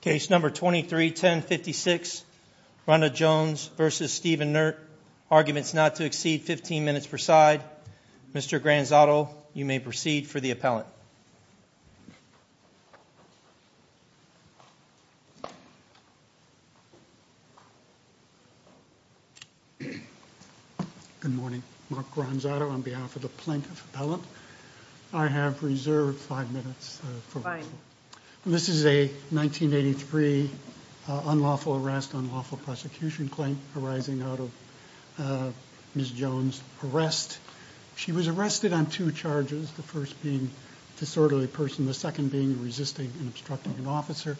Case number 231056, Ronda Jones v. Steven Naert. Arguments not to exceed 15 minutes per side. Mr. Granzato, you may proceed for the appellant. Good morning. Mark Granzato on behalf of the plaintiff appellant. I have reserved five minutes. This is a 1983 unlawful arrest, unlawful prosecution claim arising out of Ms. Jones' arrest. She was arrested on two charges, the first being disorderly person, the second being resisting and obstructing an officer.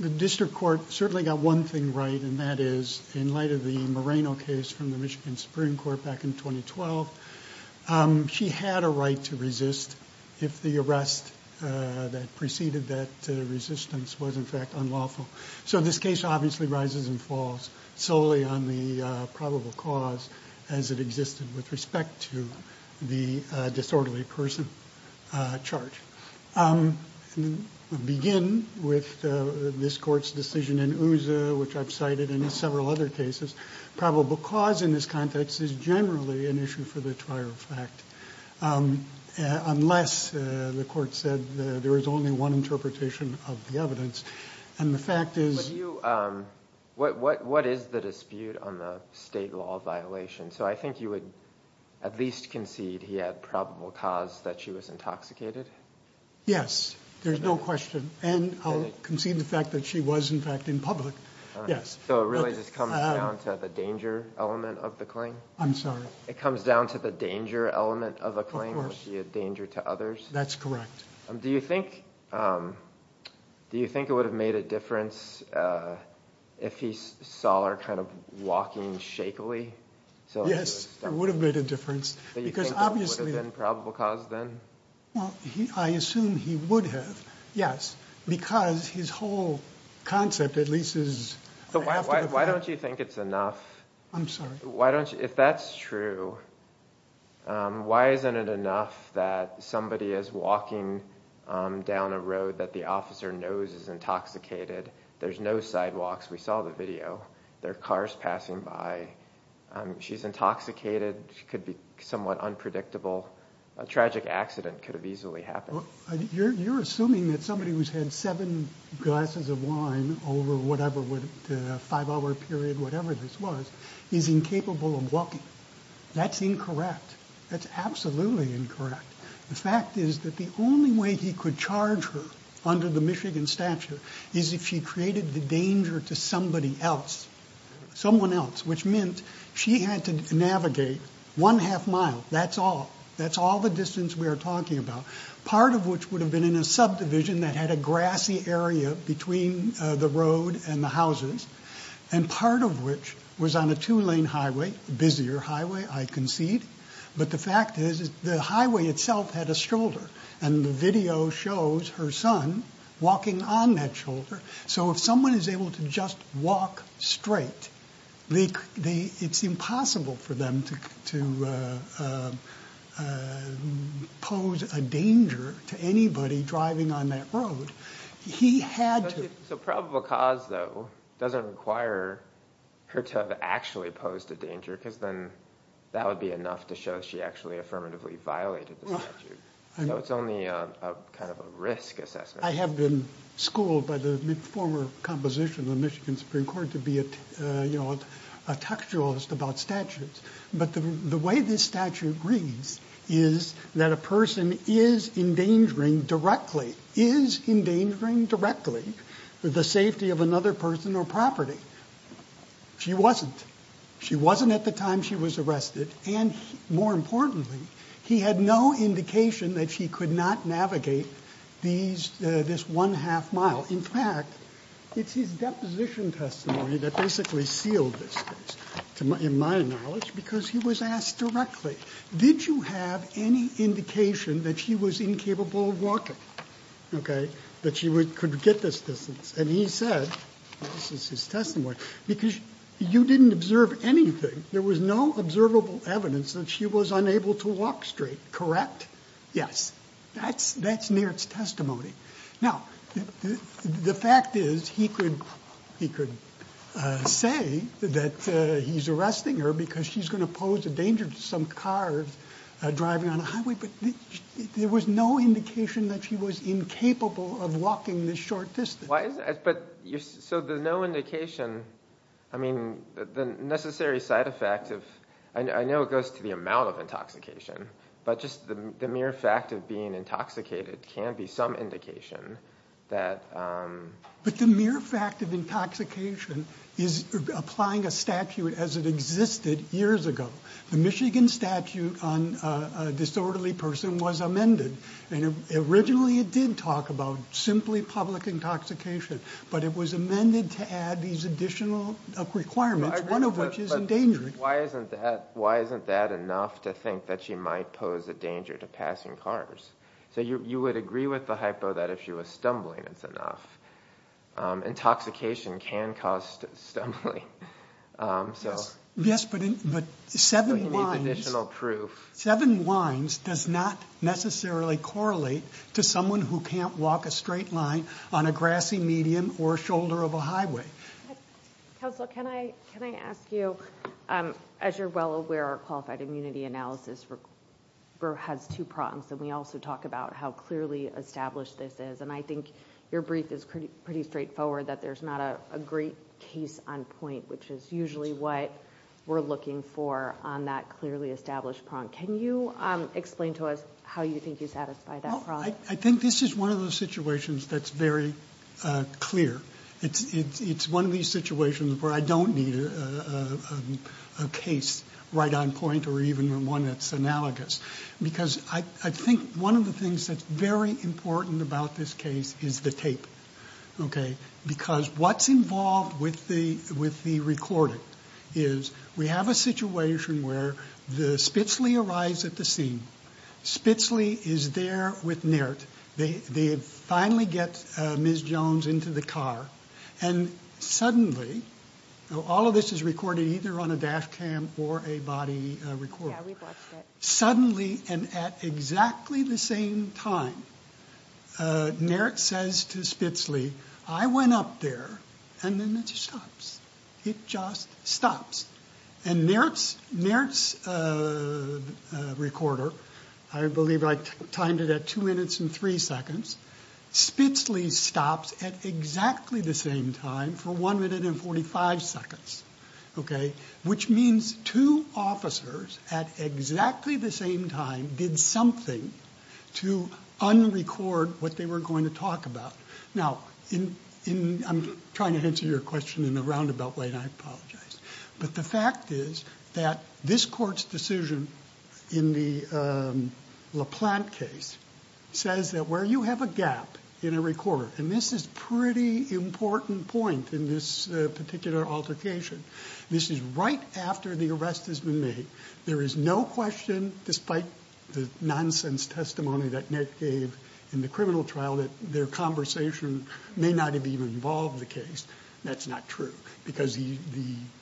The district court certainly got one thing right, and that is, in light of the Moreno case from the Michigan Supreme Court back in 2012, she had a right to resist if the arrest that preceded that resistance was in fact unlawful. So this case obviously rises and falls solely on the probable cause as it existed with respect to the disorderly person charge. I'll begin with this court's decision in Uza, which I've cited in several other cases. Probable cause in this context is generally an issue for the trial of fact, unless the court said there was only one interpretation of the evidence. And the fact is... What is the dispute on the state law violation? So I think you would at least concede he had probable cause that she was intoxicated? Yes, there's no question. And I'll concede the fact that she was in fact in public. So it really just comes down to the danger element of the claim? I'm sorry? It comes down to the danger element of a claim? Of course. Would it be a danger to others? That's correct. Do you think it would have made a difference if he saw her kind of walking shakily? Yes, it would have made a difference. Do you think it would have been probable cause then? Well, I assume he would have, yes, because his whole concept at least is... So why don't you think it's enough? I'm sorry? If that's true, why isn't it enough that somebody is walking down a road that the officer knows is intoxicated? There's no sidewalks, we saw the video. There are cars passing by. She's intoxicated. She could be somewhat unpredictable. A tragic accident could have easily happened. You're assuming that somebody who's had seven glasses of wine over a five-hour period, whatever this was, is incapable of walking. That's incorrect. That's absolutely incorrect. The fact is that the only way he could charge her under the Michigan statute is if she created the danger to somebody else, someone else, which meant she had to navigate one half mile. That's all. That's all the distance we are talking about, part of which would have been in a subdivision that had a grassy area between the road and the houses, and part of which was on a two-lane highway, busier highway, I concede. But the fact is the highway itself had a shoulder, and the video shows her son walking on that shoulder. So if someone is able to just walk straight, it's impossible for them to pose a danger to anybody driving on that road. He had to. So probable cause, though, doesn't require her to have actually posed a danger, because then that would be enough to show she actually affirmatively violated the statute. So it's only kind of a risk assessment. I have been schooled by the former composition of the Michigan Supreme Court to be a textualist about statutes. But the way this statute reads is that a person is endangering directly, is endangering directly, the safety of another person or property. She wasn't. She wasn't at the time she was arrested. And more importantly, he had no indication that she could not navigate this one-half mile. In fact, it's his deposition testimony that basically sealed this case, to my knowledge, because he was asked directly, did you have any indication that she was incapable of walking, okay, that she could get this distance? And he said, this is his testimony, because you didn't observe anything. There was no observable evidence that she was unable to walk straight, correct? Yes, that's near testimony. Now, the fact is, he could say that he's arresting her because she's going to pose a danger to some cars driving on a highway, but there was no indication that she was incapable of walking this short distance. But so there's no indication, I mean, the necessary side effect of, I know it goes to the amount of intoxication, but just the mere fact of being intoxicated can be some indication that- But the mere fact of intoxication is applying a statute as it existed years ago. The Michigan statute on a disorderly person was amended. And originally, it did talk about simply public intoxication, but it was amended to add these additional requirements, one of which is endangering. Why isn't that enough to think that she might pose a danger to passing cars? So you would agree with the hypo that if she was stumbling, it's enough. Intoxication can cause stumbling, so. Yes, but seven wines- But you need additional proof. Seven wines does not necessarily correlate to someone who can't walk a straight line on a grassy medium or shoulder of a highway. Counselor, can I ask you, as you're well aware, our qualified immunity analysis has two prongs, and we also talk about how clearly established this is. And I think your brief is pretty straightforward that there's not a great case on point, which is usually what we're looking for on that clearly established prong. Can you explain to us how you think you satisfy that prong? Well, I think this is one of those situations that's very clear. It's one of these situations where I don't need a case right on point, or even one that's analogous. Because I think one of the things that's very important about this case is the tape, okay? Because what's involved with the recording is we have a situation where the Spitzley arrives at the scene. Spitzley is there with Nairt. They finally get Ms. Jones into the car. And suddenly, all of this is recorded either on a dash cam or a body recorder, suddenly and at exactly the same time, Nairt says to Spitzley, I went up there, and then it just stops. It just stops. And Nairt's recorder, I believe I timed it at two minutes and three seconds, Spitzley stops at exactly the same time for one minute and 45 seconds, okay? Which means two officers at exactly the same time did something to unrecord what they were going to talk about. Now, I'm trying to answer your question in a roundabout way, and I apologize. But the fact is that this court's decision in the LaPlante case says that where you have a gap in a recorder, and this is pretty important point in this particular altercation, this is right after the arrest has been made. There is no question, despite the nonsense testimony that Nairt gave in the criminal trial, that their conversation may not have even involved the case. That's not true, because the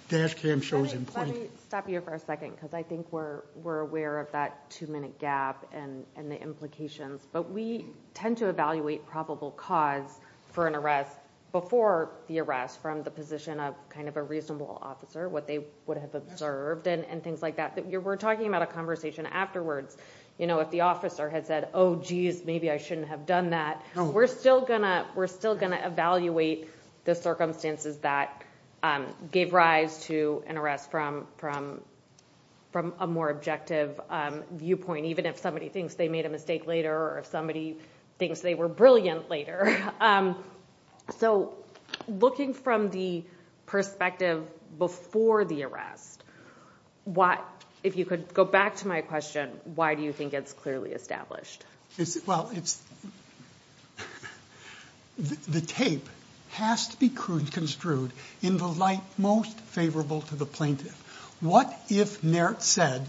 dash cam shows in point. Let me stop you for a second, because I think we're aware of that two-minute gap and the implications. But we tend to evaluate probable cause for an arrest before the arrest from the position of kind of a reasonable officer, what they would have observed and things like that. We're talking about a conversation afterwards. You know, if the officer had said, oh, jeez, maybe I shouldn't have done that, we're still going to evaluate the circumstances that gave rise to an arrest from a more objective viewpoint, even if somebody thinks they made a mistake later or if somebody thinks they were brilliant later. So looking from the perspective before the arrest, if you could go back to my question, why do you think it's clearly established? Well, it's the tape has to be construed in the light most favorable to the plaintiff. What if Nairt said,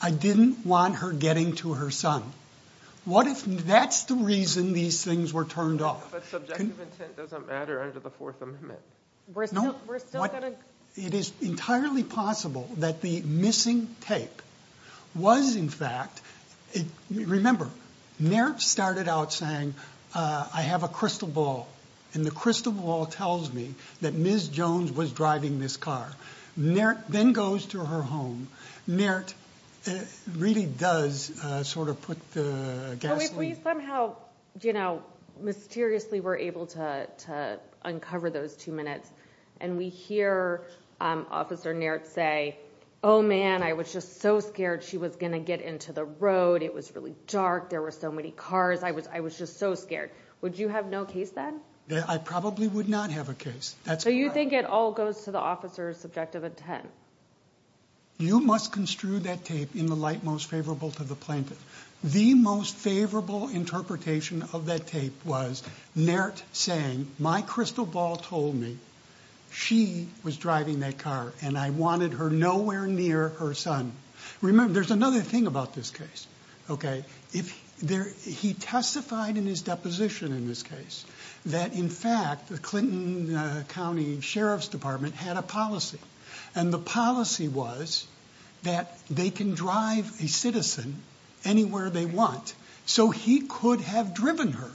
I didn't want her getting to her son? What if that's the reason these things were turned off? But subjective intent doesn't matter under the Fourth Amendment. We're still going to... It is entirely possible that the missing tape was, in fact... Remember, Nairt started out saying, I have a crystal ball, and the crystal ball tells me that Ms. Jones was driving this car. Nairt then goes to her home. Nairt really does sort of put the gas... Well, if we somehow, you know, mysteriously were able to uncover those two minutes and we hear Officer Nairt say, oh, man, I was just so scared she was going to get into the road. It was really dark. There were so many cars. I was just so scared. Would you have no case then? I probably would not have a case. So you think it all goes to the officer's subjective intent? You must construe that tape in the light most favorable to the plaintiff. The most favorable interpretation of that tape was Nairt saying, my crystal ball told me she was driving that car, and I wanted her nowhere near her son. Remember, there's another thing about this case, okay? He testified in his deposition in this case that, in fact, the Clinton County Sheriff's Department had a policy, and the policy was that they can drive a citizen anywhere they want, so he could have driven her.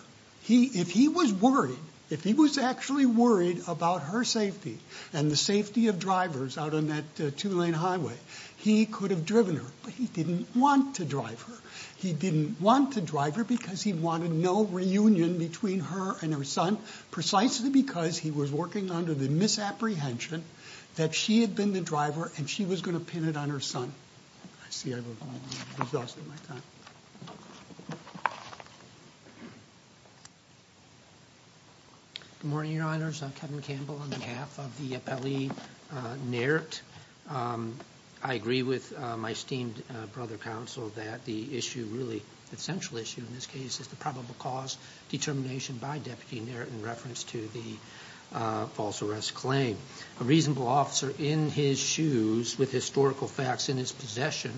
If he was worried, if he was actually worried about her safety and the safety of drivers out on that two-lane highway, he could have driven her, but he didn't want to drive her. He didn't want to drive her because he wanted no reunion between her and her son, precisely because he was working under the misapprehension that she had been the driver, and she was going to pin it on her son. I see I've exhausted my time. Good morning, Your Honors. I'm Kevin Campbell on behalf of the appellee, Nairt. I agree with my esteemed brother, counsel, that the issue, really, the central issue in this case is the probable cause determination by Deputy Nairt in reference to the false arrest claim. A reasonable officer in his shoes, with historical facts in his possession,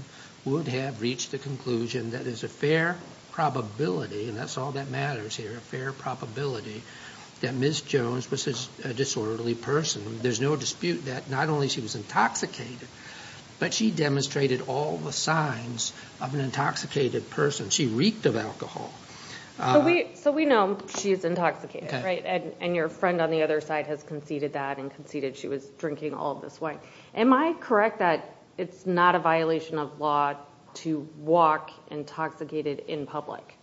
would have reached the conclusion that there's a fair probability, and that's all that matters here, a fair probability, that Ms. Jones was a disorderly person. There's no dispute that not only she was intoxicated, but she demonstrated all the signs of an intoxicated person. She reeked of alcohol. So we know she's intoxicated, right, and your friend on the other side has conceded that and conceded she was drinking all this wine. Am I correct that it's not a violation of law to walk intoxicated in public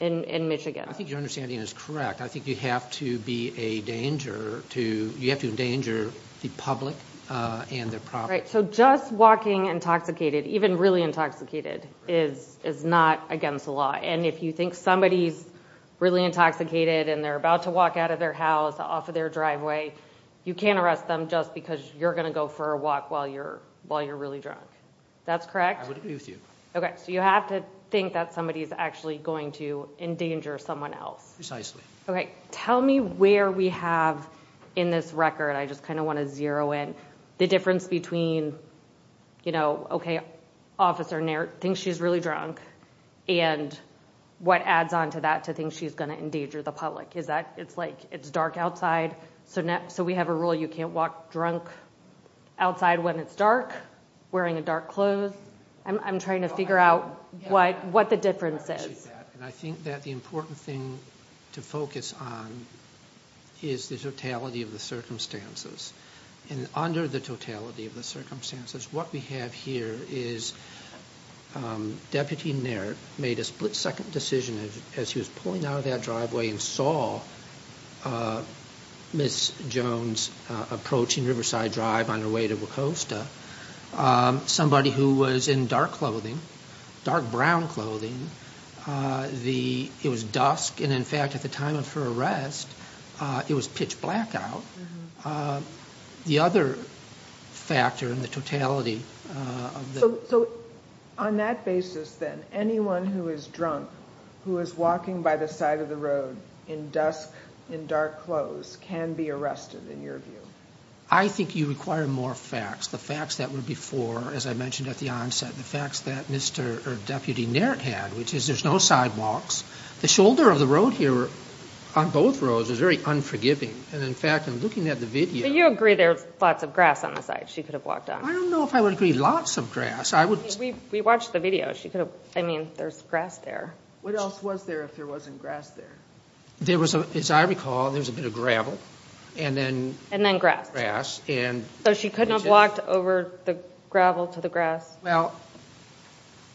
in Michigan? I think your understanding is correct. I think you have to be a danger to, you have to endanger the public and their property. Right, so just walking intoxicated, even really intoxicated, is not against the law. And if you think somebody's really intoxicated and they're about to walk out of their house, off of their driveway, you can't arrest them just because you're going to go for a walk while you're really drunk. That's correct? I would agree with you. Okay, so you have to think that somebody's actually going to endanger someone else. Precisely. Okay, tell me where we have in this record, I just kind of want to zero in, the difference between, you know, okay, officer thinks she's really drunk, and what adds on to that to think she's going to endanger the public. Is that, it's like, it's dark outside, so we have a rule you can't walk drunk outside when it's dark, wearing dark clothes, I'm trying to figure out what the difference is. And I think that the important thing to focus on is the totality of the circumstances. And under the totality of the circumstances, what we have here is, Deputy Naird made a split second decision as he was pulling out of that driveway and saw Ms. Jones approaching Riverside Drive on her way to Wacosta. Somebody who was in dark clothing, dark brown clothing, it was dusk, and in fact at the time of her arrest, it was pitch black out. The other factor in the totality of the- So on that basis then, anyone who is drunk, who is walking by the side of the road in dusk, in dark clothes, can be arrested in your view? I think you require more facts. The facts that were before, as I mentioned at the onset, the facts that Mr. or Deputy Naird had, which is there's no sidewalks. The shoulder of the road here, on both roads, is very unforgiving. And in fact, in looking at the video- But you agree there's lots of grass on the side she could have walked on. I don't know if I would agree lots of grass. I would- We watched the video. She could have, I mean, there's grass there. What else was there if there wasn't grass there? There was, as I recall, there was a bit of gravel. And then- And then grass. Grass, and- So she could not have walked over the gravel to the grass? Well,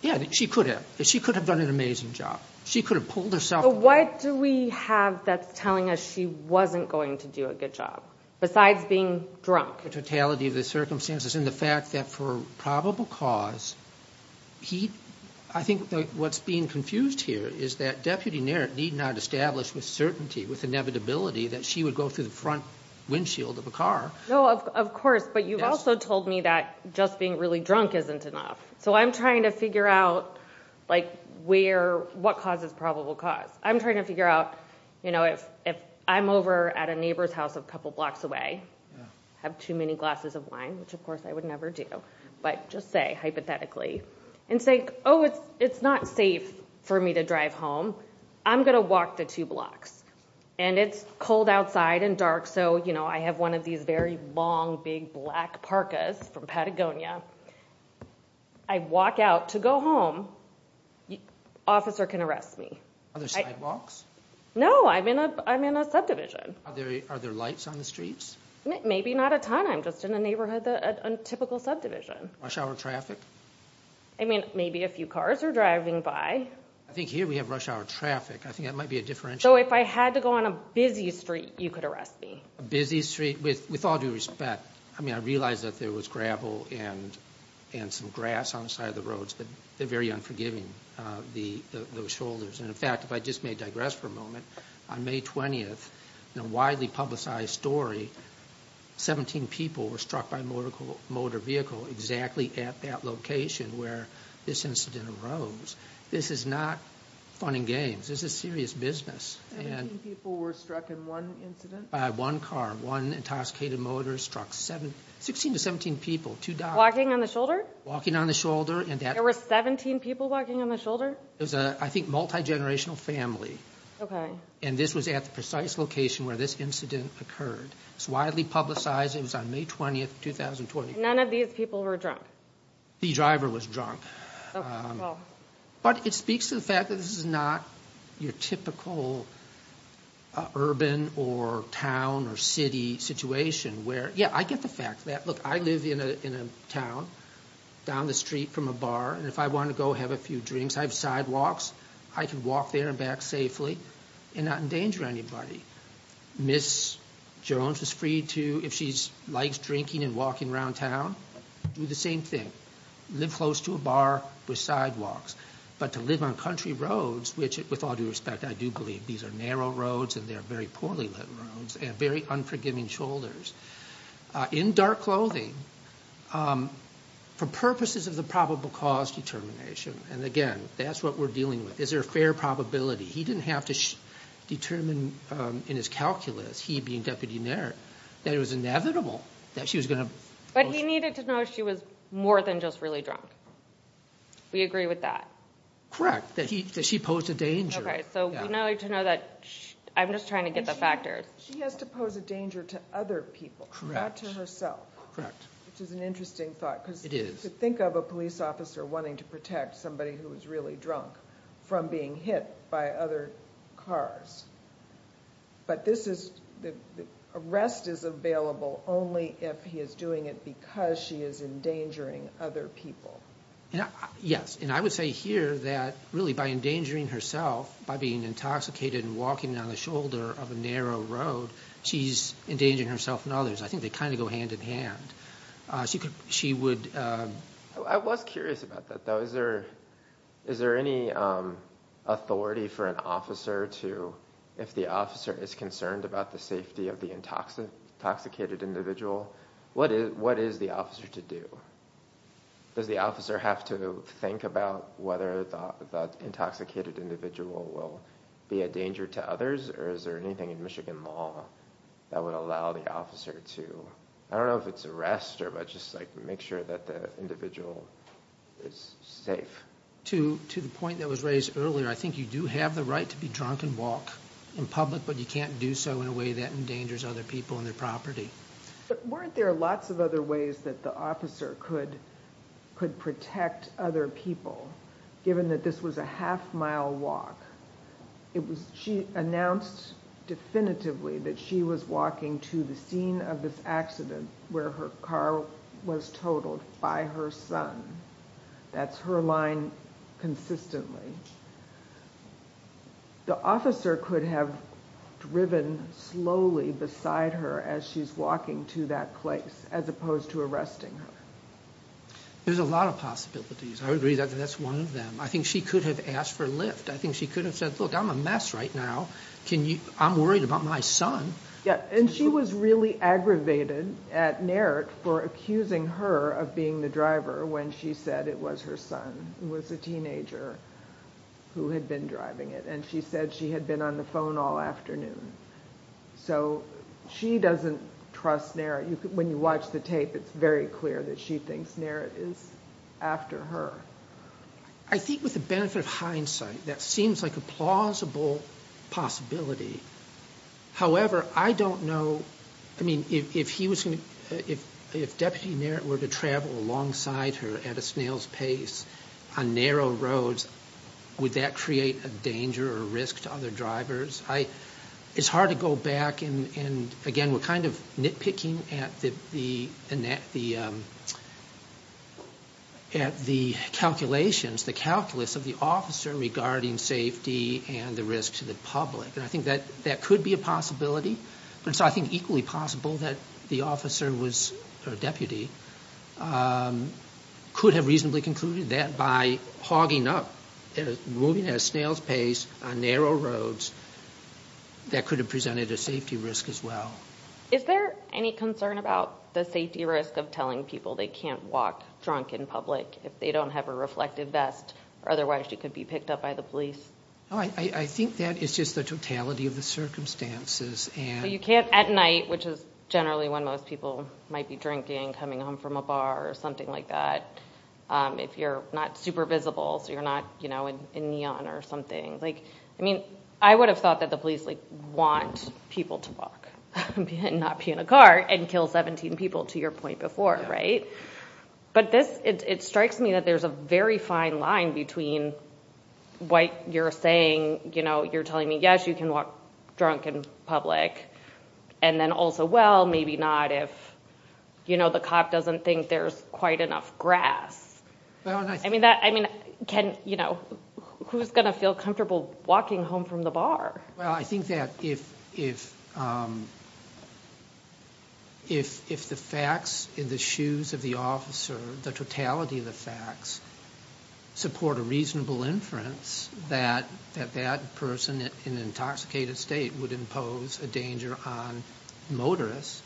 yeah, she could have. She could have done an amazing job. She could have pulled herself- But what do we have that's telling us she wasn't going to do a good job, besides being drunk? The totality of the circumstances, and the fact that for probable cause, he- I think what's being confused here is that Deputy Naird need not establish with certainty, with inevitability, that she would go through the front windshield of a car. No, of course, but you've also told me that just being really drunk isn't enough. So I'm trying to figure out, like, what causes probable cause? I'm trying to figure out, you know, if I'm over at a neighbor's house a couple blocks away, have too many glasses of wine, which of course I would never do, but just say, hypothetically, and say, oh, it's not safe for me to drive home, I'm going to walk the two blocks. And it's cold outside and dark, so, you know, I have one of these very long, big, black Parkas from Patagonia. I walk out to go home, officer can arrest me. Are there sidewalks? No, I'm in a subdivision. Are there lights on the streets? Maybe not a ton, I'm just in a neighborhood, a typical subdivision. Rush hour traffic? I mean, maybe a few cars are driving by. I think here we have rush hour traffic. I think that might be a differential. So if I had to go on a busy street, you could arrest me? A busy street? With all due respect, I mean, I realize that there was gravel and some grass on the side of the roads, but they're very unforgiving, those shoulders. And in fact, if I just may digress for a moment, on May 20th, in a widely publicized story, 17 people were struck by a motor vehicle exactly at that location where this incident arose. This is not fun and games, this is serious business. 17 people were struck in one incident? By one car, one intoxicated motorist struck 16 to 17 people, two dogs. Walking on the shoulder? Walking on the shoulder. There were 17 people walking on the shoulder? It was a, I think, multi-generational family. And this was at the precise location where this incident occurred. It's widely publicized. It was on May 20th, 2020. None of these people were drunk? The driver was drunk. But it speaks to the fact that this is not your typical urban or town or city situation where... Yeah, I get the fact that. Look, I live in a town down the street from a bar, and if I want to go have a few drinks, I have sidewalks, I can walk there and back safely and not endanger anybody. Ms. Jones is free to, if she likes drinking and walking around town, do the same thing. Live close to a bar with sidewalks. But to live on country roads, which, with all due respect, I do believe these are narrow roads and they're very poorly lit roads, and very unforgiving shoulders, in dark clothing, for purposes of the probable cause determination. And again, that's what we're dealing with. Is there a fair probability? He didn't have to determine in his calculus, he being Deputy Mayor, that it was inevitable that she was going to... But he needed to know she was more than just really drunk. We agree with that. Correct, that she posed a danger. Okay, so we now need to know that... I'm just trying to get the factors. She has to pose a danger to other people, not to herself. Correct. Which is an interesting thought. It is. To think of a police officer wanting to protect somebody who is really drunk from being hit by other cars. But this is... The arrest is available only if he is doing it because she is endangering other people. Yes, and I would say here that, really, by endangering herself, by being intoxicated and walking on the shoulder of a narrow road, she's endangering herself and others. I think they kind of go hand in hand. She would... I was curious about that, though. Is there any authority for an officer to... If the officer is concerned about the safety of the intoxicated individual, what is the officer to do? Does the officer have to think about whether the intoxicated individual will be a danger to others, or is there anything in Michigan law that would allow the officer to... I don't know if it's arrest, or just make sure that the individual is safe. To the point that was raised earlier, I think you do have the right to be drunk and walk in public, but you can't do so in a way that endangers other people and their property. But weren't there lots of other ways that the officer could protect other people, given that this was a half-mile walk? She announced definitively that she was walking to the scene of this accident where her car was totaled by her son. That's her line consistently. The officer could have driven slowly beside her as she's walking to that place, as opposed to arresting her. There's a lot of possibilities. I agree that that's one of them. I think she could have asked for a lift. I think she could have said, look, I'm a mess right now, I'm worried about my son. Yeah, and she was really aggravated at Naret for accusing her of being the driver when she said it was her son, who was a teenager, who had been driving it. And she said she had been on the phone all afternoon. So she doesn't trust Naret. When you watch the tape, it's very clear that she thinks Naret is after her. I think with the benefit of hindsight, that seems like a plausible possibility. However, I don't know, I mean, if he was going to, if Deputy Naret were to travel alongside her at a snail's pace on narrow roads, would that create a danger or risk to other drivers? It's hard to go back and, again, we're kind of nitpicking at the, at the calculations, the calculus of the officer regarding safety and the risk to the public. And I think that that could be a possibility. But it's, I think, equally possible that the officer was, or deputy, could have reasonably concluded that by hogging up, moving at a snail's pace on narrow roads, that could have presented a safety risk as well. Is there any concern about the safety risk of telling people they can't walk drunk in public if they don't have a reflective vest, or otherwise you could be picked up by the police? I think that is just the totality of the circumstances. You can't at night, which is generally when most people might be drinking, coming home from a bar or something like that, if you're not super visible, so you're not, you know, in neon or something. Like, I mean, I would have thought that the police, like, want people to walk and not be in a car and kill 17 people, to your point before, right? But this, it strikes me that there's a very fine line between what you're saying, you know, you're telling me, yes, you can walk drunk in public, and then also, well, maybe not if, you know, the cop doesn't think there's quite enough grass. I mean, who's going to feel comfortable walking home from the bar? Well, I think that if the facts in the shoes of the officer, the totality of the facts, support a reasonable inference that that person in an intoxicated state would impose a danger on motorists,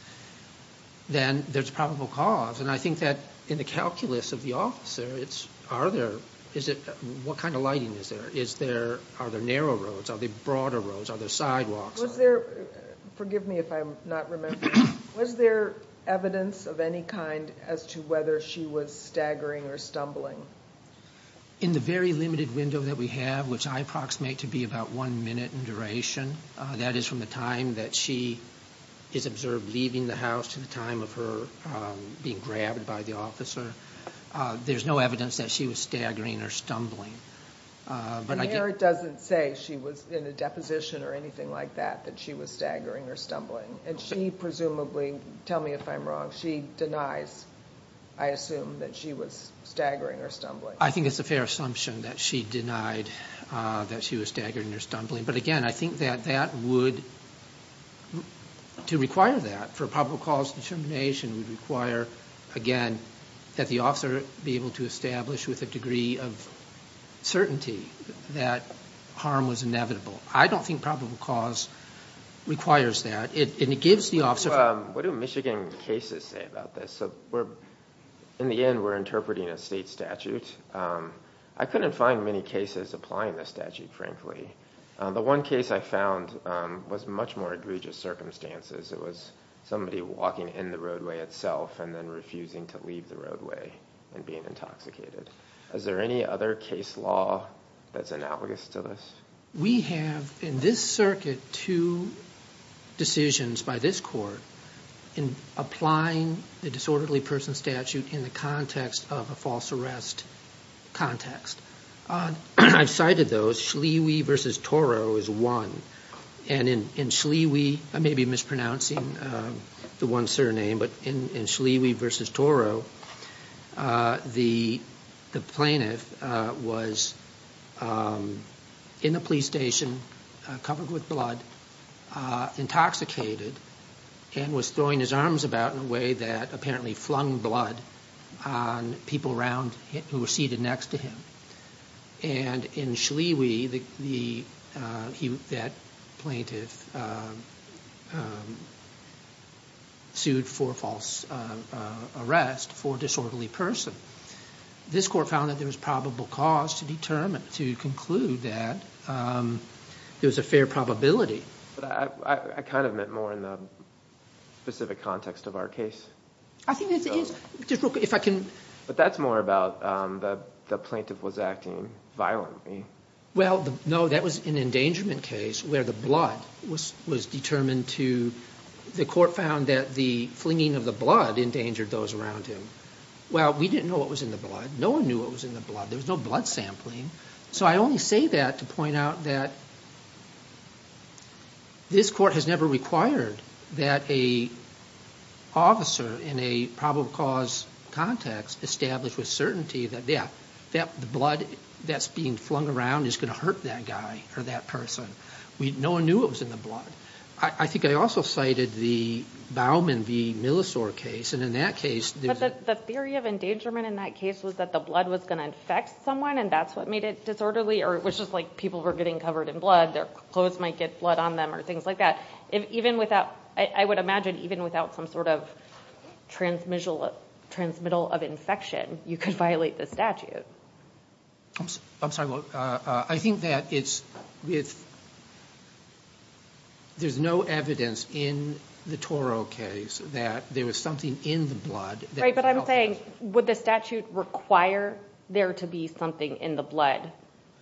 then there's probable cause. And I think that in the calculus of the officer, it's, are there, is it, what kind of lighting is there? Is there, are there narrow roads? Are there broader roads? Are there sidewalks? Was there, forgive me if I'm not remembering, was there evidence of any kind as to whether she was staggering or stumbling? In the very limited window that we have, which I approximate to be about one minute in duration, that is from the time that she is observed leaving the house to the time of her being grabbed by the officer, there's no evidence that she was staggering or stumbling. But I think... The merit doesn't say she was in a deposition or anything like that, that she was staggering or stumbling. And she presumably, tell me if I'm wrong, she denies, I assume, that she was staggering or stumbling. I think it's a fair assumption that she denied that she was staggering or stumbling. But, again, I think that that would, to require that for probable cause determination, would require, again, that the officer be able to establish with a degree of certainty that harm was inevitable. I don't think probable cause requires that. It gives the officer... What do Michigan cases say about this? In the end, we're interpreting a state statute. I couldn't find many cases applying the statute, frankly. The one case I found was much more egregious circumstances. It was somebody walking in the roadway itself and then refusing to leave the roadway and being intoxicated. Is there any other case law that's analogous to this? We have, in this circuit, two decisions by this court in applying the disorderly person statute in the context of a false arrest context. I've cited those. Schlewi v. Toro is one. And in Schlewi, I may be mispronouncing the one surname, but in Schlewi v. Toro, the plaintiff was in the police station, covered with blood, intoxicated, and was throwing his arms about in a way that apparently flung blood on people around who were seated next to him. And in Schlewi, that plaintiff sued for false arrest for disorderly person. This court found that there was probable cause to conclude that there was a fair probability. I kind of meant more in the specific context of our case. I think it is. But that's more about the plaintiff was acting violently. Well, no, that was an endangerment case where the blood was determined to— the court found that the flinging of the blood endangered those around him. Well, we didn't know what was in the blood. No one knew what was in the blood. There was no blood sampling. So I only say that to point out that this court has never required that a officer in a probable cause context establish with certainty that the blood that's being flung around is going to hurt that guy or that person. No one knew what was in the blood. I think I also cited the Bauman v. Millisore case, and in that case— The theory of endangerment in that case was that the blood was going to infect someone, and that's what made it disorderly, or it was just like people were getting covered in blood. Their clothes might get blood on them or things like that. I would imagine even without some sort of transmittal of infection, you could violate the statute. I'm sorry. I think that there's no evidence in the Toro case that there was something in the blood. Right, but I'm saying would the statute require there to be something in the blood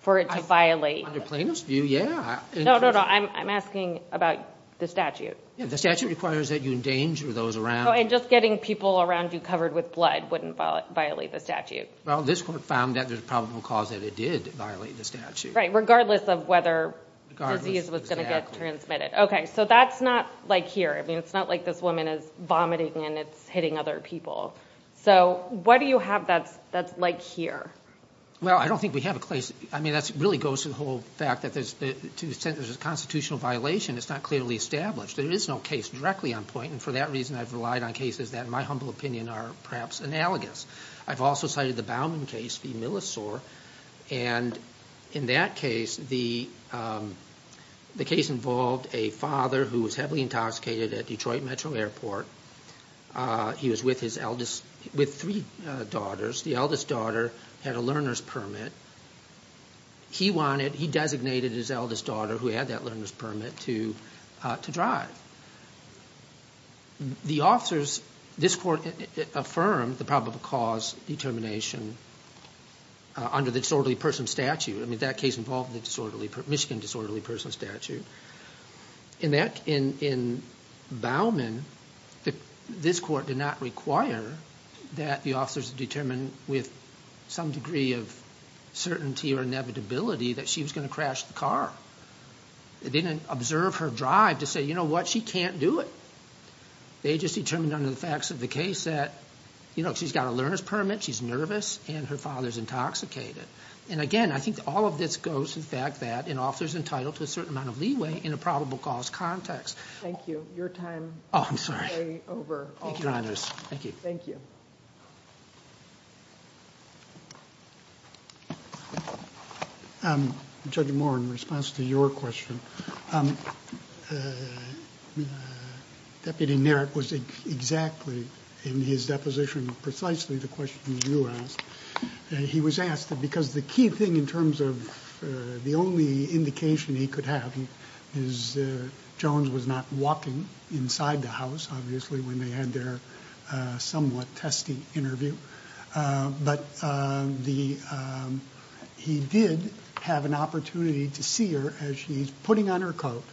for it to violate— Under plaintiff's view, yeah. No, no, no. I'm asking about the statute. Yeah, the statute requires that you endanger those around you. Oh, and just getting people around you covered with blood wouldn't violate the statute. Well, this court found that there's a probable cause that it did violate the statute. Right, regardless of whether disease was going to get transmitted. Okay, so that's not like here. I mean, it's not like this woman is vomiting and it's hitting other people. So what do you have that's like here? Well, I don't think we have a place— I mean, that really goes to the whole fact that to the extent there's a constitutional violation, it's not clearly established. There is no case directly on point, and for that reason, I've relied on cases that, in my humble opinion, are perhaps analogous. I've also cited the Baumann case v. Millisore, and in that case, the case involved a father who was heavily intoxicated at Detroit Metro Airport. He was with his eldest—with three daughters. The eldest daughter had a learner's permit. He wanted—he designated his eldest daughter, who had that learner's permit, to drive. The officers—this Court affirmed the probable cause determination under the disorderly person statute. I mean, that case involved the disorderly—Michigan disorderly person statute. In that—in Baumann, this Court did not require that the officers determine with some degree of certainty or inevitability that she was going to crash the car. It didn't observe her drive to say, you know what, she can't do it. They just determined under the facts of the case that, you know, she's got a learner's permit, she's nervous, and her father's intoxicated. And again, I think all of this goes to the fact that an officer's entitled to a certain amount of leeway in a probable cause context. Thank you. Your time is over. Oh, I'm sorry. Thank you, Your Honors. Thank you. Thank you. Judge Moore, in response to your question, Deputy Nairt was exactly, in his deposition, precisely the question you asked. He was asked, because the key thing in terms of the only indication he could have, and Ms. Jones was not walking inside the house, obviously, when they had their somewhat testy interview, but he did have an opportunity to see her as she's putting on her coat,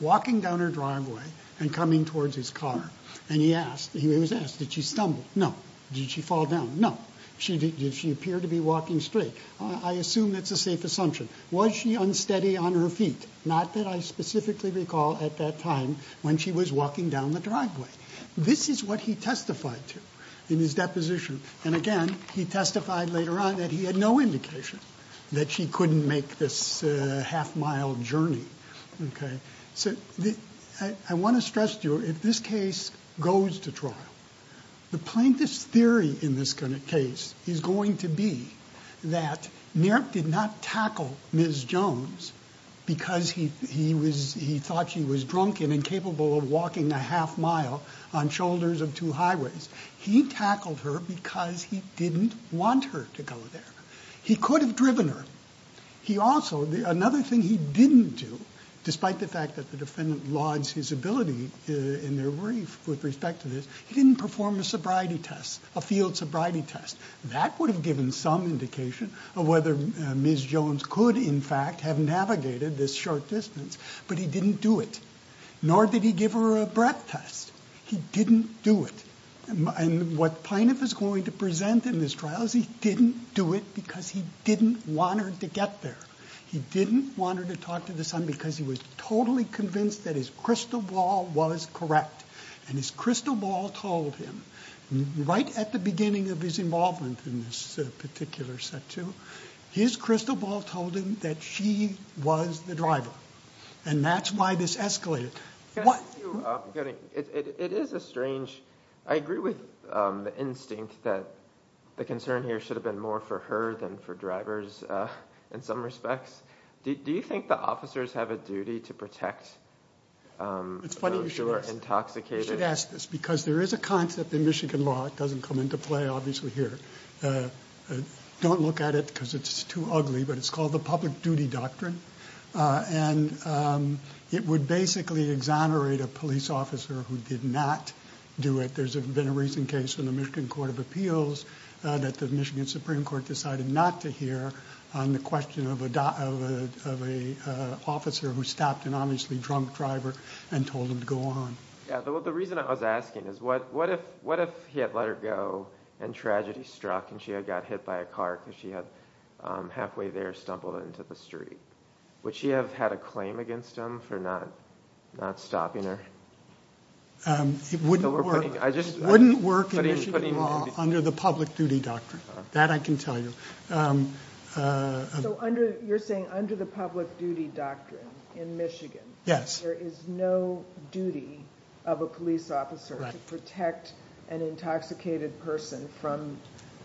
walking down her driveway, and coming towards his car. And he was asked, did she stumble? No. Did she fall down? No. Did she appear to be walking straight? I assume that's a safe assumption. Was she unsteady on her feet? Not that I specifically recall at that time when she was walking down the driveway. This is what he testified to in his deposition. And again, he testified later on that he had no indication that she couldn't make this half-mile journey. So I want to stress to you, if this case goes to trial, the plaintiff's theory in this case is going to be that Nairt did not tackle Ms. Jones because he thought she was drunk and incapable of walking a half-mile on shoulders of two highways. He tackled her because he didn't want her to go there. He could have driven her. Another thing he didn't do, despite the fact that the defendant lauds his ability in their brief with respect to this, he didn't perform a field sobriety test. That would have given some indication of whether Ms. Jones could in fact have navigated this short distance, but he didn't do it. Nor did he give her a breath test. He didn't do it. And what plaintiff is going to present in this trial is he didn't do it because he didn't want her to get there. He didn't want her to talk to the son because he was totally convinced that his crystal ball was correct. And his crystal ball told him, right at the beginning of his involvement in this particular statute, his crystal ball told him that she was the driver. And that's why this escalated. I agree with the instinct that the concern here should have been more for her than for drivers in some respects. Do you think the officers have a duty to protect those who are intoxicated? You should ask this because there is a concept in Michigan law that doesn't come into play obviously here. Don't look at it because it's too ugly, but it's called the public duty doctrine. And it would basically exonerate a police officer who did not do it. There's been a recent case in the Michigan Court of Appeals that the Michigan Supreme Court decided not to hear on the question of an officer who stopped an obviously drunk driver and told him to go on. The reason I was asking is what if he had let her go and tragedy struck and she had got hit by a car because she had halfway there stumbled into the street. Would she have had a claim against him for not stopping her? It wouldn't work in Michigan law under the public duty doctrine. That I can tell you. You're saying under the public duty doctrine in Michigan there is no duty of a police officer to protect an intoxicated person from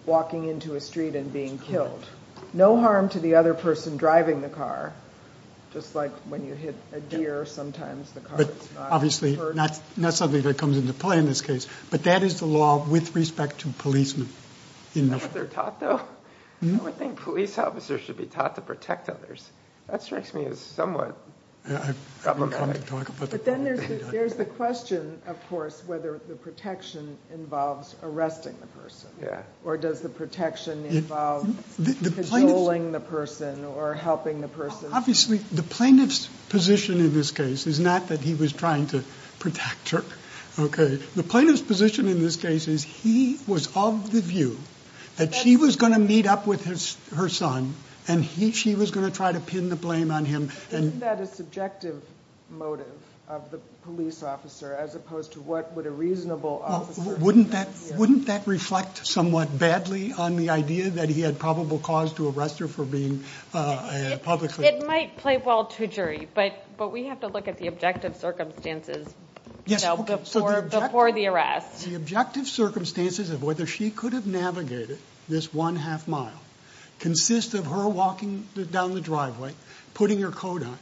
walking into a street and being killed. No harm to the other person driving the car. Just like when you hit a deer sometimes the car is not hurt. But obviously not something that comes into play in this case. But that is the law with respect to policemen. I think police officers should be taught to protect others. That strikes me as somewhat problematic. There's the question of course whether the protection involves arresting the person. Or does the protection involve controlling the person or helping the person. Obviously the plaintiff's position in this case is not that he was trying to protect her. The plaintiff's position in this case is he was of the view that she was going to meet up with her son and she was going to try to pin the blame on him. Isn't that a subjective motive of the police officer as opposed to what a reasonable officer would do? Wouldn't that reflect somewhat badly on the idea that he had probable cause to arrest her for being a public figure? It might play well to jury, but we have to look at the objective circumstances before the arrest. The objective circumstances of whether she could have navigated this one half mile consist of her walking down the driveway, putting her coat on.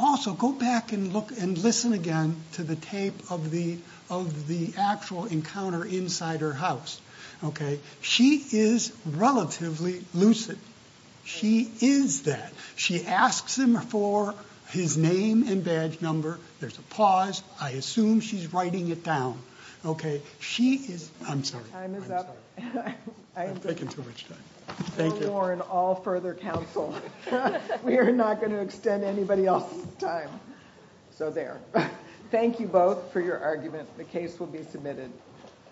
Also go back and listen again to the tape of the actual encounter inside her house. She is relatively lucid. She is that. She asks him for his name and badge number. There's a pause. I assume she's writing it down. Thank you both for your argument. The case will be submitted.